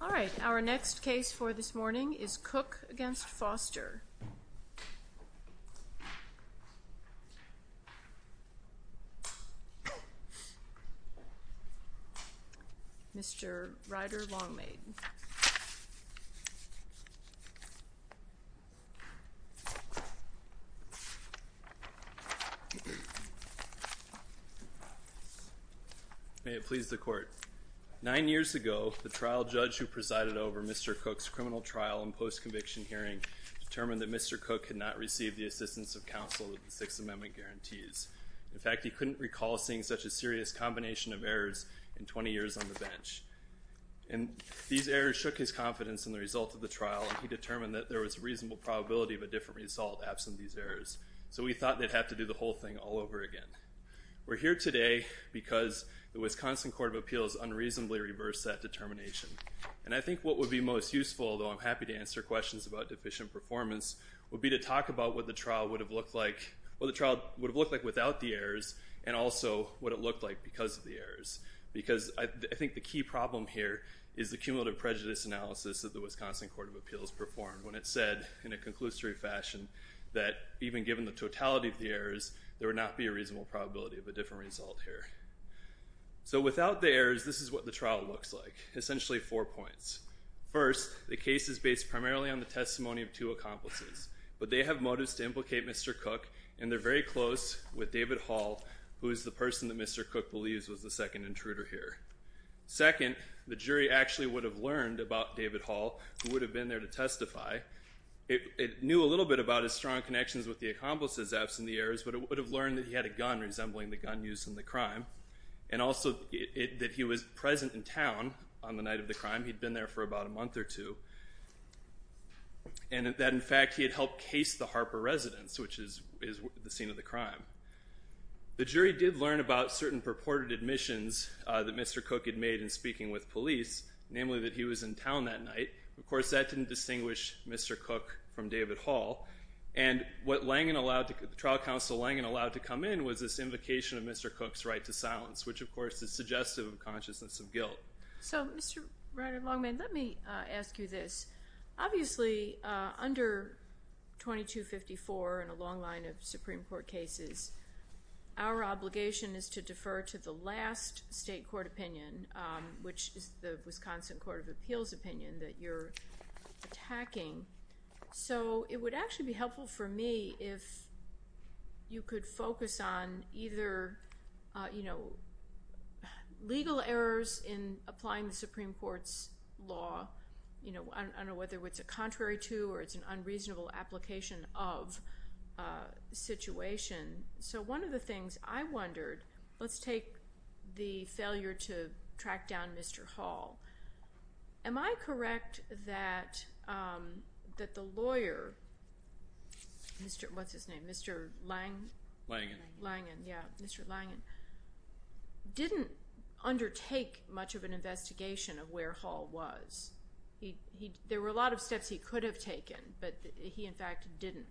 Alright, our next case for this morning is Cook v. Foster. Mr. Ryder Longmade May it please the court, nine years ago, the trial judge who presided over Mr. Cook's criminal trial and post-conviction hearing determined that Mr. Cook could not receive the assistance of counsel that the Sixth Amendment guarantees. In fact, he couldn't recall seeing such a serious combination of errors in 20 years on the bench. And these errors shook his confidence in the result of the trial, and he determined that there was a reasonable probability of a different result absent these errors. So we thought they'd have to do the whole thing all over again. We're here today because the Wisconsin Court of Appeals unreasonably reversed that determination. And I think what would be most useful, although I'm happy to answer questions about deficient performance, would be to talk about what the trial would have looked like without the errors and also what it looked like because of the errors. Because I think the key problem here is the cumulative prejudice analysis that the Wisconsin Court of Appeals performed when it said in a conclusory fashion that even given the totality of the errors, there would not be a reasonable probability of a different result here. So without the errors, this is what the trial looks like. Essentially four points. First, the case is based primarily on the testimony of two accomplices. But they have motives to implicate Mr. Cook, and they're very close with David Hall, who is the person that Mr. Cook believes was the second intruder here. Second, the jury actually would have learned about David Hall, who would have been there to testify. It knew a little bit about his strong connections with the accomplices absent the errors, but it would have learned that he had a gun resembling the gun used in the crime. And also that he was present in town on the night of the crime. He'd been there for about a month or two. And that in fact he had helped case the Harper residence, which is the scene of the crime. The jury did learn about certain purported admissions that Mr. Cook had made in speaking with police, namely that he was in town that night. Of course, that didn't distinguish Mr. Cook from David Hall. And what trial counsel Langan allowed to come in was this invocation of Mr. Cook's right to silence, which of course is suggestive of consciousness of guilt. So Mr. Ryder-Langman, let me ask you this. Obviously under 2254 and a long line of Supreme Court cases, our obligation is to defer to the last state court opinion, which is the Wisconsin Court of Appeals opinion that you're attacking. So it would actually be helpful for me if you could focus on either legal errors in applying the Supreme Court's law, I don't know whether it's a contrary to or it's an unreasonable application of situation. So one of the things I wondered, let's take the failure to track down Mr. Hall. Am I correct that the lawyer, what's his name, Mr. Langan, didn't undertake much of an investigation of where Hall was? There were a lot of steps he could have taken, but he in fact didn't.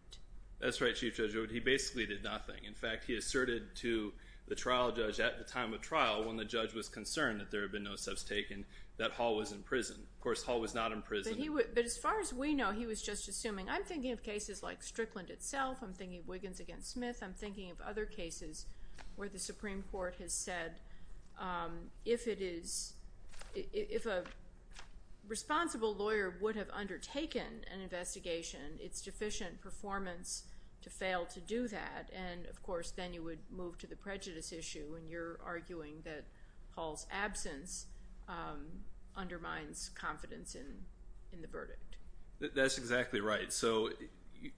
That's right, Chief Judge. He basically did nothing. In fact, he asserted to the trial judge at the time of trial when the judge was concerned that there had been no steps taken, that Hall was in prison. Of course, Hall was not in prison. But as far as we know, he was just assuming, I'm thinking of cases like Strickland itself, I'm thinking of Wiggins v. Smith, I'm thinking of other cases where the Supreme Court has said if a responsible lawyer would have undertaken an investigation, it's deficient performance to fail to do that, and of course then you would move to the prejudice issue when you're absence undermines confidence in the verdict. That's exactly right. So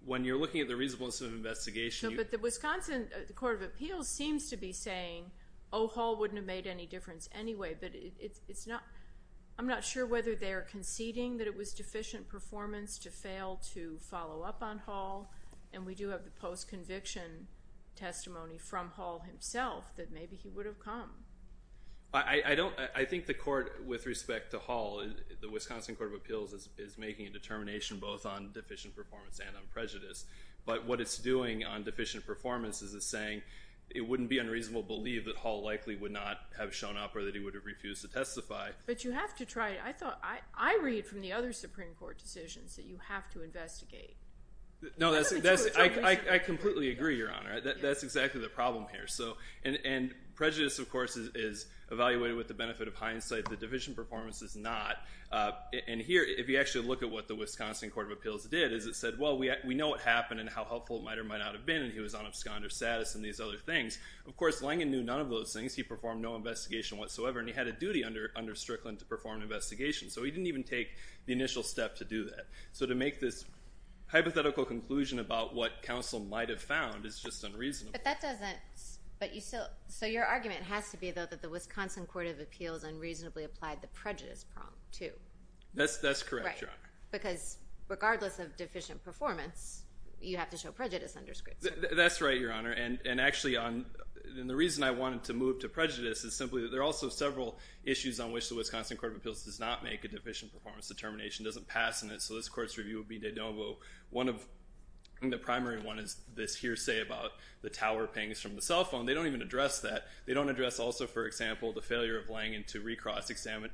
when you're looking at the reasonableness of an investigation, you... No, but the Wisconsin Court of Appeals seems to be saying, oh, Hall wouldn't have made any difference anyway, but it's not... I'm not sure whether they're conceding that it was deficient performance to fail to follow up on Hall, and we do have the post-conviction testimony from Hall himself that maybe he would have come. I don't... I think the court, with respect to Hall, the Wisconsin Court of Appeals is making a determination both on deficient performance and on prejudice. But what it's doing on deficient performance is it's saying it wouldn't be unreasonable to believe that Hall likely would not have shown up or that he would have refused to testify. But you have to try... I thought... I read from the other Supreme Court decisions that you have to investigate. No, that's... I completely agree, Your Honor. That's exactly the problem here. And prejudice, of course, is evaluated with the benefit of hindsight. The deficient performance is not. And here, if you actually look at what the Wisconsin Court of Appeals did, is it said, well, we know what happened and how helpful it might or might not have been, and he was on absconder status and these other things. Of course, Langen knew none of those things. He performed no investigation whatsoever, and he had a duty under Strickland to perform an investigation. So he didn't even take the initial step to do that. So to make this hypothetical conclusion about what counsel might have found is just unreasonable. But that doesn't... but you still... so your argument has to be, though, that the Wisconsin Court of Appeals unreasonably applied the prejudice prong, too. That's correct, Your Honor. Right. Because regardless of deficient performance, you have to show prejudice under Strickland. That's right, Your Honor. And actually, on... and the reason I wanted to move to prejudice is simply that there are also several issues on which the Wisconsin Court of Appeals does not make a deficient So one of... and the primary one is this hearsay about the tower pings from the cell phone. They don't even address that. They don't address, also, for example, the failure of Langen to recross-examine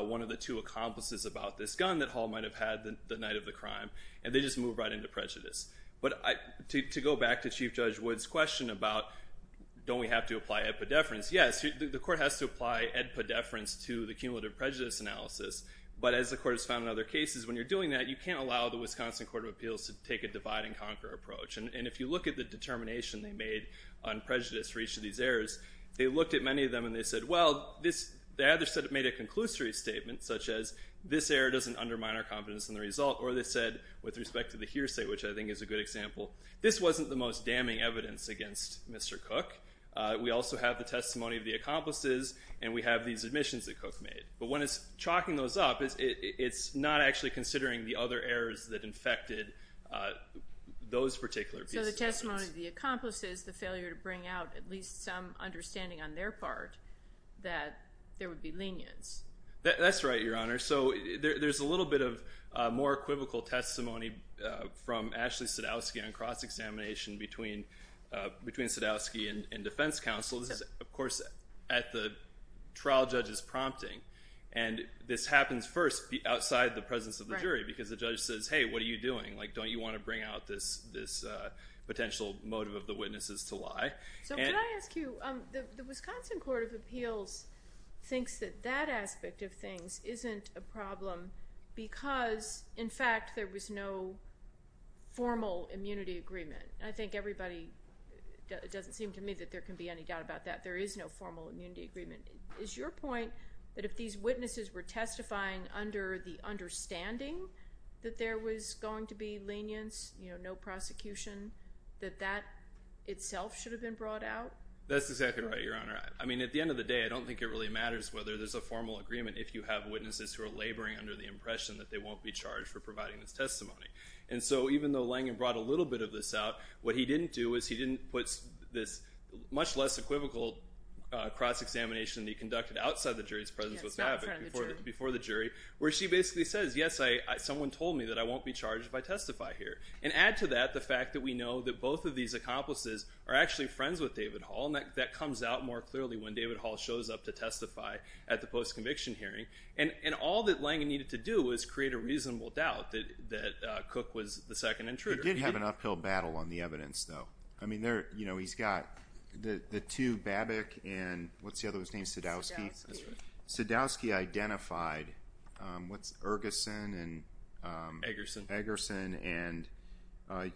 one of the two accomplices about this gun that Hall might have had the night of the crime. And they just move right into prejudice. But to go back to Chief Judge Wood's question about don't we have to apply epidefference, yes, the court has to apply epidefference to the cumulative prejudice analysis. But as the court has found in other cases, when you're doing that, you can't allow the Wisconsin Court of Appeals to take a divide-and-conquer approach. And if you look at the determination they made on prejudice for each of these errors, they looked at many of them and they said, well, this... they either said it made a conclusory statement, such as this error doesn't undermine our confidence in the result, or they said, with respect to the hearsay, which I think is a good example, this wasn't the most damning evidence against Mr. Cook. We also have the testimony of the accomplices, and we have these admissions that Cook made. But when it's chalking those up, it's not actually considering the other errors that infected those particular pieces. So the testimony of the accomplices, the failure to bring out at least some understanding on their part that there would be lenience. That's right, Your Honor. So there's a little bit of more equivocal testimony from Ashley Sadowski on cross-examination between Sadowski and defense counsel. This is, of course, at the trial judge's prompting. And this happens first outside the presence of the jury, because the judge says, hey, what are you doing? Like, don't you want to bring out this potential motive of the witnesses to lie? So could I ask you, the Wisconsin Court of Appeals thinks that that aspect of things isn't a problem because, in fact, there was no formal immunity agreement. I think everybody, it doesn't seem to me that there can be any doubt about that. There is no formal immunity agreement. Is your point that if these witnesses were testifying under the understanding that there was going to be lenience, no prosecution, that that itself should have been brought out? That's exactly right, Your Honor. I mean, at the end of the day, I don't think it really matters whether there's a formal agreement if you have witnesses who are laboring under the impression that they won't be charged for providing this testimony. And so even though Langen brought a little bit of this out, what he didn't do was he didn't put this much less equivocal cross-examination that he conducted outside the jury's presence with Babbitt before the jury, where she basically says, yes, someone told me that I won't be charged if I testify here. And add to that the fact that we know that both of these accomplices are actually friends with David Hall, and that comes out more clearly when David Hall shows up to testify at the post-conviction hearing. And all that Langen needed to do was create a reasonable doubt that Cook was the second intruder. He did have an uphill battle on the evidence, though. I mean, he's got the two, Babbitt and, what's the other one's name, Sadowski? Sadowski identified, what's it, Ergeson and... Eggerson. Eggerson and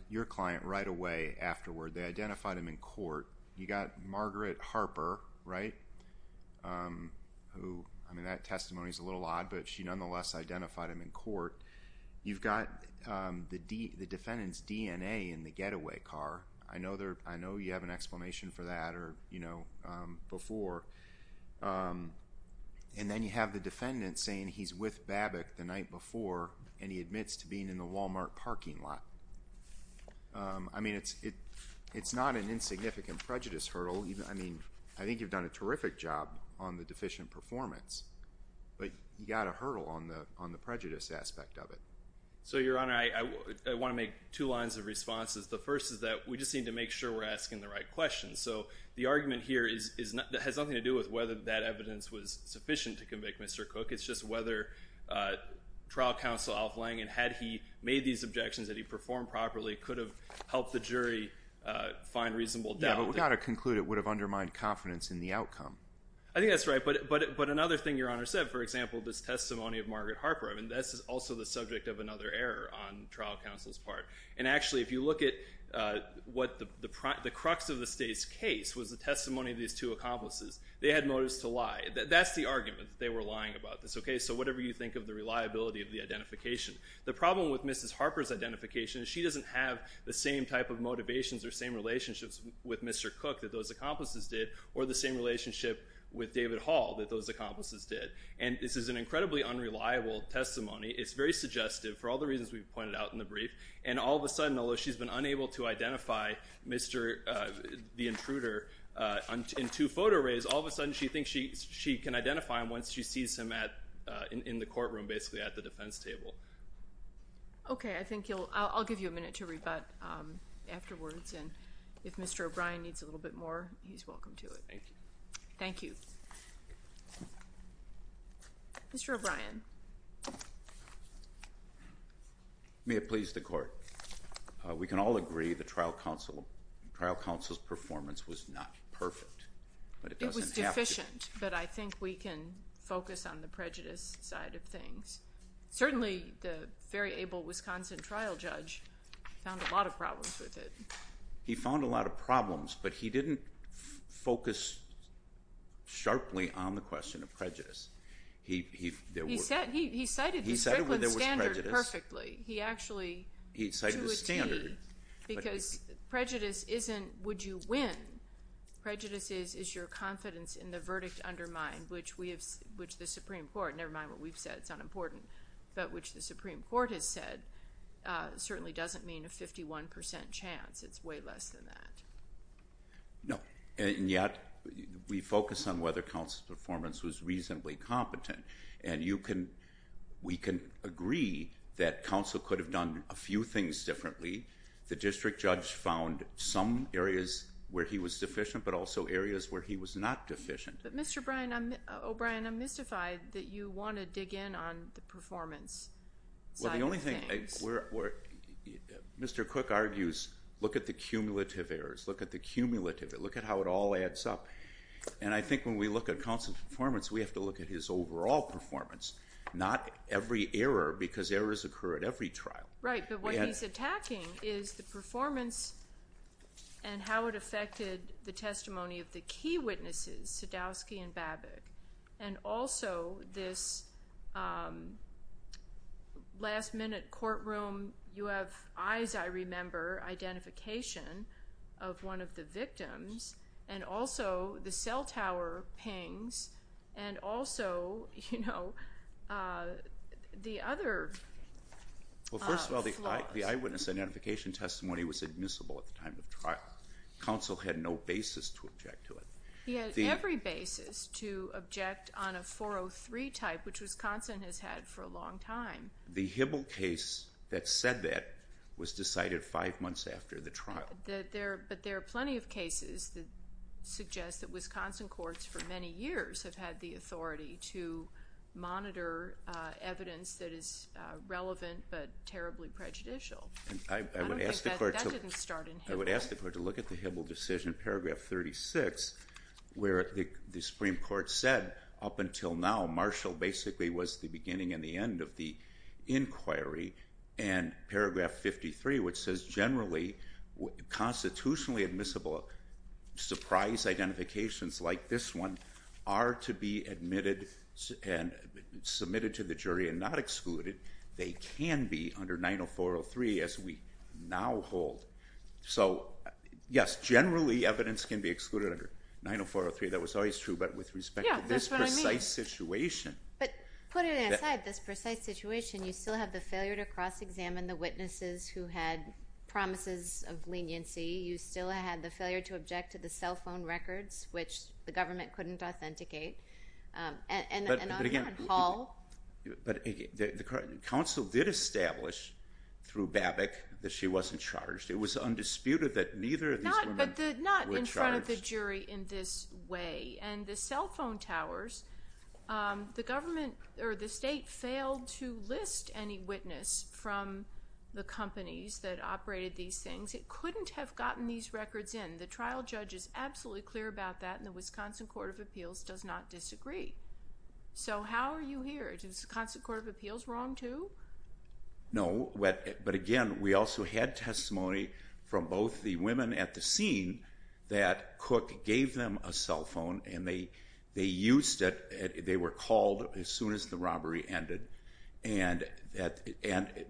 your client right away afterward. They identified him in court. You got Margaret Harper, right, who, I mean, that testimony's a little odd, but she nonetheless identified him in court. You've got the defendant's DNA in the getaway car. I know you have an explanation for that or, you know, before. And then you have the defendant saying he's with Babbitt the night before, and he admits to being in the Walmart parking lot. I mean, it's not an insignificant prejudice hurdle. I mean, I think you've done a terrific job on the deficient performance, but you got a hurdle on the prejudice aspect of it. So Your Honor, I want to make two lines of responses. The first is that we just need to make sure we're asking the right questions. So the argument here has nothing to do with whether that evidence was sufficient to convict Mr. Cook. It's just whether trial counsel Alf Langen, had he made these objections that he performed properly could have helped the jury find reasonable doubt. Yeah, but we've got to conclude it would have undermined confidence in the outcome. I think that's right, but another thing Your Honor said, for example, this testimony of Margaret Harper, I mean, that's also the subject of another error on trial counsel's part. And actually, if you look at what the crux of the state's case was the testimony of these two accomplices, they had motives to lie. That's the argument. They were lying about this. Okay, so whatever you think of the reliability of the identification. The problem with Mrs. Harper's identification is she doesn't have the same type of motivations or same relationships with Mr. Cook that those accomplices did, or the same relationship with David Hall that those accomplices did. And this is an incredibly unreliable testimony. It's very suggestive for all the reasons we've pointed out in the brief. And all of a sudden, although she's been unable to identify the intruder in two photo arrays, all of a sudden she thinks she can identify him once she sees him in the courtroom, basically at the defense table. Okay, I think you'll, I'll give you a minute to rebut afterwards, and if Mr. O'Brien needs a little bit more, he's welcome to it. Thank you. Thank you. Mr. O'Brien. May it please the Court. This is deficient, but I think we can focus on the prejudice side of things. Certainly the very able Wisconsin trial judge found a lot of problems with it. He found a lot of problems, but he didn't focus sharply on the question of prejudice. He said, he cited the Strickland standard perfectly. He actually, to a T, because prejudice isn't, would you win? Prejudice is, is your confidence in the verdict undermined, which we have, which the Supreme Court, never mind what we've said, it's unimportant, but which the Supreme Court has said certainly doesn't mean a 51% chance. It's way less than that. No. And yet, we focus on whether counsel's performance was reasonably competent. And you can, we can agree that counsel could have done a few things differently. The district judge found some areas where he was deficient, but also areas where he was not deficient. But Mr. O'Brien, I'm mystified that you want to dig in on the performance side of things. Well, the only thing, Mr. Cook argues, look at the cumulative errors, look at the cumulative, look at how it all adds up. And I think when we look at counsel's performance, we have to look at his overall performance, not every error, because errors occur at every trial. Right. But what he's attacking is the performance and how it affected the testimony of the key witnesses, Sadowski and Babik, and also this last minute courtroom, you have eyes, I remember, identification of one of the victims, and also the cell tower pings, and also, you know, the other. Well, first of all, the eyewitness identification testimony was admissible at the time of trial. Counsel had no basis to object to it. He had every basis to object on a 403 type, which Wisconsin has had for a long time. The Hibble case that said that was decided five months after the trial. But there are plenty of cases that suggest that Wisconsin courts for many years have had the authority to monitor evidence that is relevant but terribly prejudicial. I would ask the court to look at the Hibble decision, paragraph 36, where the Supreme Court said, up until now, Marshall basically was the beginning and the end of the inquiry. And paragraph 53, which says generally, constitutionally admissible surprise identifications like this one are to be admitted and submitted to the jury and not excluded. They can be under 90403, as we now hold. So yes, generally, evidence can be excluded under 90403. That was always true. But with respect to this precise situation. Yeah, that's what I mean. But put it aside, this precise situation, you still have the failure to cross-examine the witnesses who had promises of leniency. You still had the failure to object to the cell phone records, which the government couldn't authenticate. But again, the counsel did establish through Babbitt that she wasn't charged. It was undisputed that neither of these women were charged. Not in front of the jury in this way. And the cell phone towers, the government or the state failed to list any witness from the companies that operated these things. It couldn't have gotten these records in. The trial judge is absolutely clear about that and the Wisconsin Court of Appeals does not disagree. So how are you here? Is the Wisconsin Court of Appeals wrong too? No, but again, we also had testimony from both the women at the scene that Cook gave them a cell phone and they used it. They were called as soon as the robbery ended. And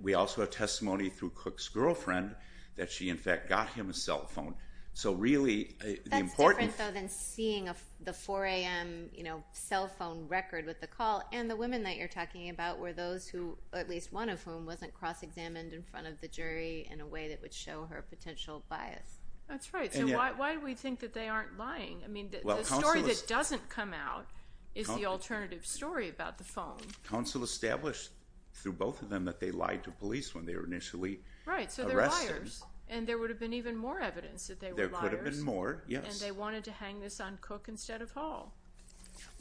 we also have testimony through Cook's girlfriend that she in fact got him a cell phone. So really, the important... That's different though than seeing the 4 a.m. cell phone record with the call and the women that you're talking about were those who, at least one of whom, wasn't cross-examined in front of the jury in a way that would show her potential bias. That's right. So why do we think that they aren't lying? I mean, the story that doesn't come out is the alternative story about the phone. Counsel established through both of them that they lied to police when they were initially So they're liars. And there would have been even more evidence that they were liars. There could have been more, yes. And they wanted to hang this on Cook instead of Hall.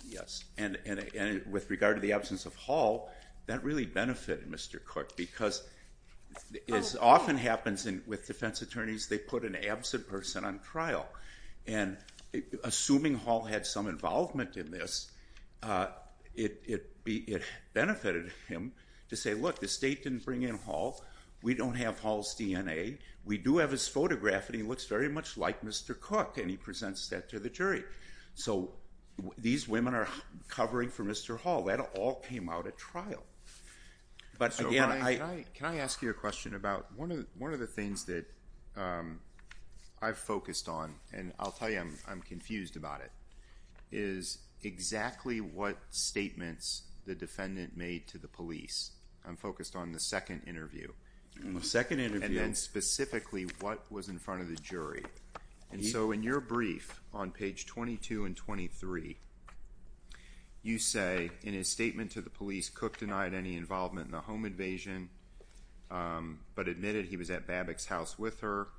Yes. And with regard to the absence of Hall, that really benefited Mr. Cook because as often happens with defense attorneys, they put an absent person on trial. And assuming Hall had some involvement in this, it benefited him to say, look, the state didn't bring in Hall, we don't have Hall's DNA, we do have his photograph and he looks very much like Mr. Cook, and he presents that to the jury. So these women are covering for Mr. Hall. That all came out at trial. But again, I... And I'll tell you, I'm confused about it, is exactly what statements the defendant made to the police. I'm focused on the second interview. And the second interview... And then specifically what was in front of the jury. And so in your brief on page 22 and 23, you say, in his statement to the police, Cook denied any involvement in the home invasion, but admitted he was at Babbock's house with her,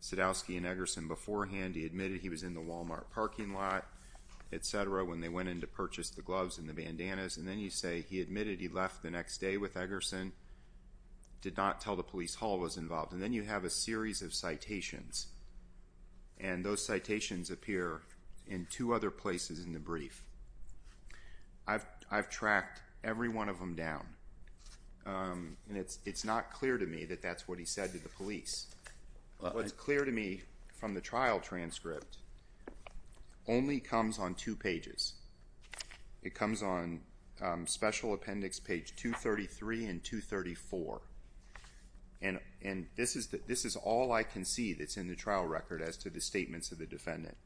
Sadowski and Eggerson, beforehand. He admitted he was in the Walmart parking lot, etc., when they went in to purchase the gloves and the bandanas. And then you say, he admitted he left the next day with Eggerson, did not tell the police Hall was involved. And then you have a series of citations, and those citations appear in two other places in the brief. I've tracked every one of them down, and it's not clear to me that that's what he said to the police. What's clear to me from the trial transcript only comes on two pages. It comes on special appendix page 233 and 234. And this is all I can see that's in the trial record as to the statements of the defendant.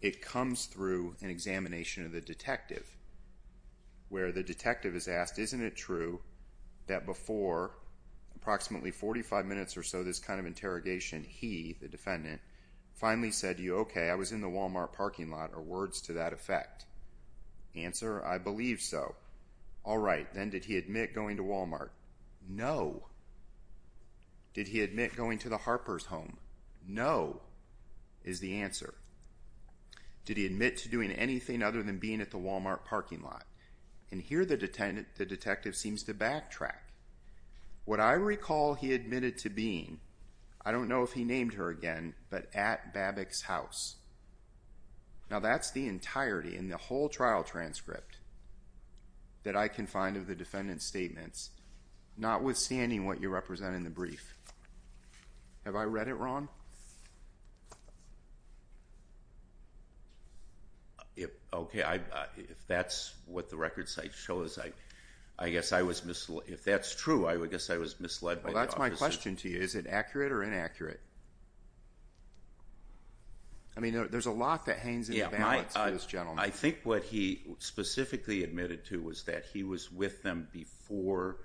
It comes through an examination of the detective, where the detective is asked, isn't it true that before approximately 45 minutes or so, this kind of interrogation, he, the defendant, finally said to you, okay, I was in the Walmart parking lot, or words to that effect. Answer, I believe so. All right, then did he admit going to Walmart? No. Did he admit going to the Harper's home? No, is the answer. Did he admit to doing anything other than being at the Walmart parking lot? And here the detective seems to backtrack. What I recall he admitted to being, I don't know if he named her again, but at Babbock's house. Now, that's the entirety in the whole trial transcript that I can find of the defendant's statements, notwithstanding what you represent in the brief. Have I read it wrong? Okay, if that's what the record site shows, I guess I was, if that's true, I guess I was misled by the officer. Well, that's my question to you. Is it accurate or inaccurate? I mean, there's a lot that hangs in the balance for this gentleman. I think what he specifically admitted to was that he was with them before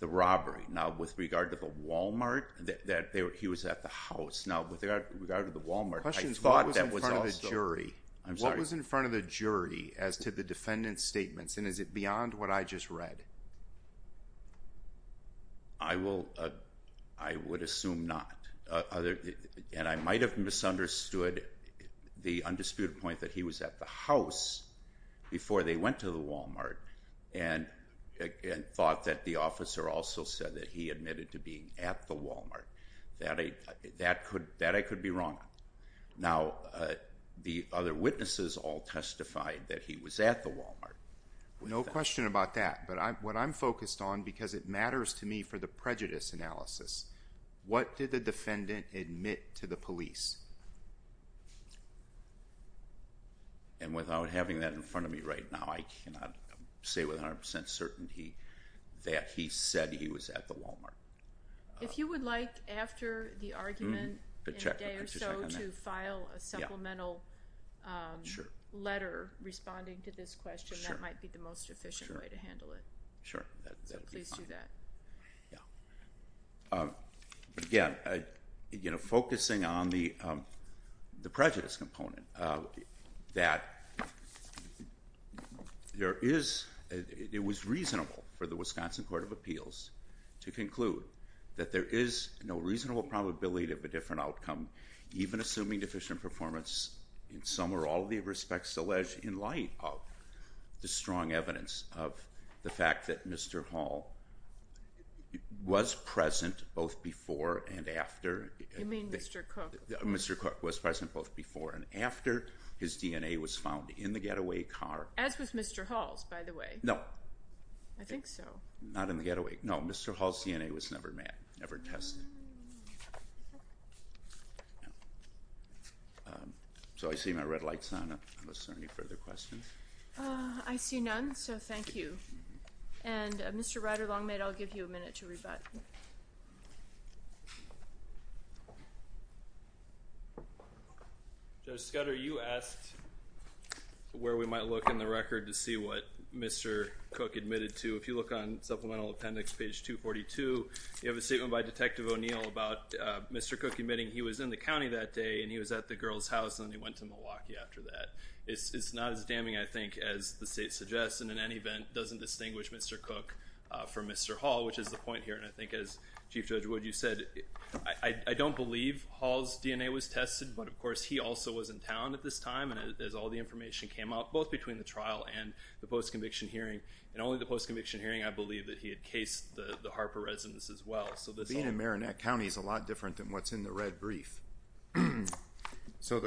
the robbery. Now, with regard to the Walmart, that he was at the house. Now, with regard to the Walmart, I thought that was also- Questions, what was in front of the jury? I'm sorry. What was in front of the jury as to the defendant's statements, and is it beyond what I just read? I will, I would assume not. And I might have misunderstood the undisputed point that he was at the house before they Now, the other witnesses all testified that he was at the Walmart. No question about that, but what I'm focused on, because it matters to me for the prejudice analysis, what did the defendant admit to the police? And without having that in front of me right now, I cannot say with 100% certainty that he said he was at the Walmart. If you would like, after the argument, in a day or so, to file a supplemental letter responding to this question, that might be the most efficient way to handle it. Sure. That would be fine. Please do that. Yeah. Again, you know, focusing on the prejudice component, that there is, it was reasonable for the Wisconsin Court of Appeals to conclude that there is no reasonable probability of a different outcome, even assuming deficient performance in some or all of the respects alleged in light of the strong evidence of the fact that Mr. Hall was present both before and after. You mean Mr. Cook? Mr. Cook was present both before and after his DNA was found in the getaway car. As was Mr. Hall's, by the way. No. I think so. Not in the getaway. No, Mr. Hall's DNA was never tested. So I see my red light's on, unless there are any further questions. I see none, so thank you. And Mr. Ryder-Longmead, I'll give you a minute to rebut. Judge Scudder, you asked where we might look in the record to see what Mr. Cook admitted to. If you look on Supplemental Appendix, page 242, you have a statement by Detective O'Neill about Mr. Cook admitting he was in the county that day, and he was at the girl's house, and then he went to Milwaukee after that. It's not as damning, I think, as the state suggests, and in any event, doesn't distinguish Mr. Cook from Mr. Hall, which is the point here. And I think, as Chief Judge Wood, you said, I don't believe Hall's DNA was tested, but of course, he also was in town at this time, and as all the information came out, both between the trial and the post-conviction hearing, and only the post-conviction hearing, I believe, that he had cased the Harper residence as well. So that's all. Being in Marinette County is a lot different than what's in the red brief. So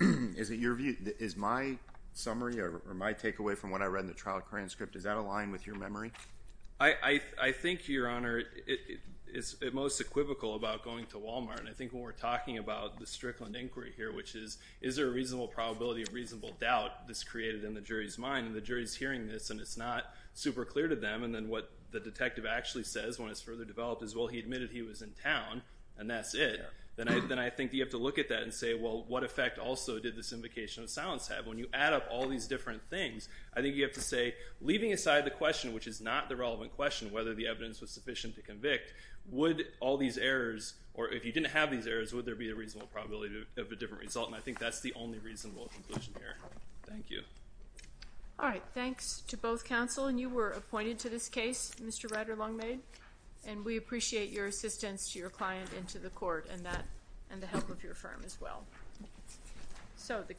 is it your view? Is my summary, or my takeaway from what I read in the trial transcript, does that align with your memory? I think, Your Honor, it's at most equivocal about going to Walmart, and I think when we're talking about the Strickland inquiry here, which is, is there a reasonable probability of reasonable doubt this created in the jury's mind, and the jury's hearing this, and it's not super clear to them, and then what the detective actually says when it's further developed is, well, he admitted he was in town, and that's it, then I think you have to look at that and say, well, what effect also did this invocation of silence have? When you add up all these different things, I think you have to say, leaving aside the question, which is not the relevant question, whether the evidence was sufficient to convict, would all these errors, or if you didn't have these errors, would there be a reasonable probability of a different result, and I think that's the only reasonable conclusion here. Thank you. All right. Thanks to both counsel, and you were appointed to this case, Mr. Ryder-Longmaid, and we appreciate your assistance to your client and to the court, and the help of your firm as well.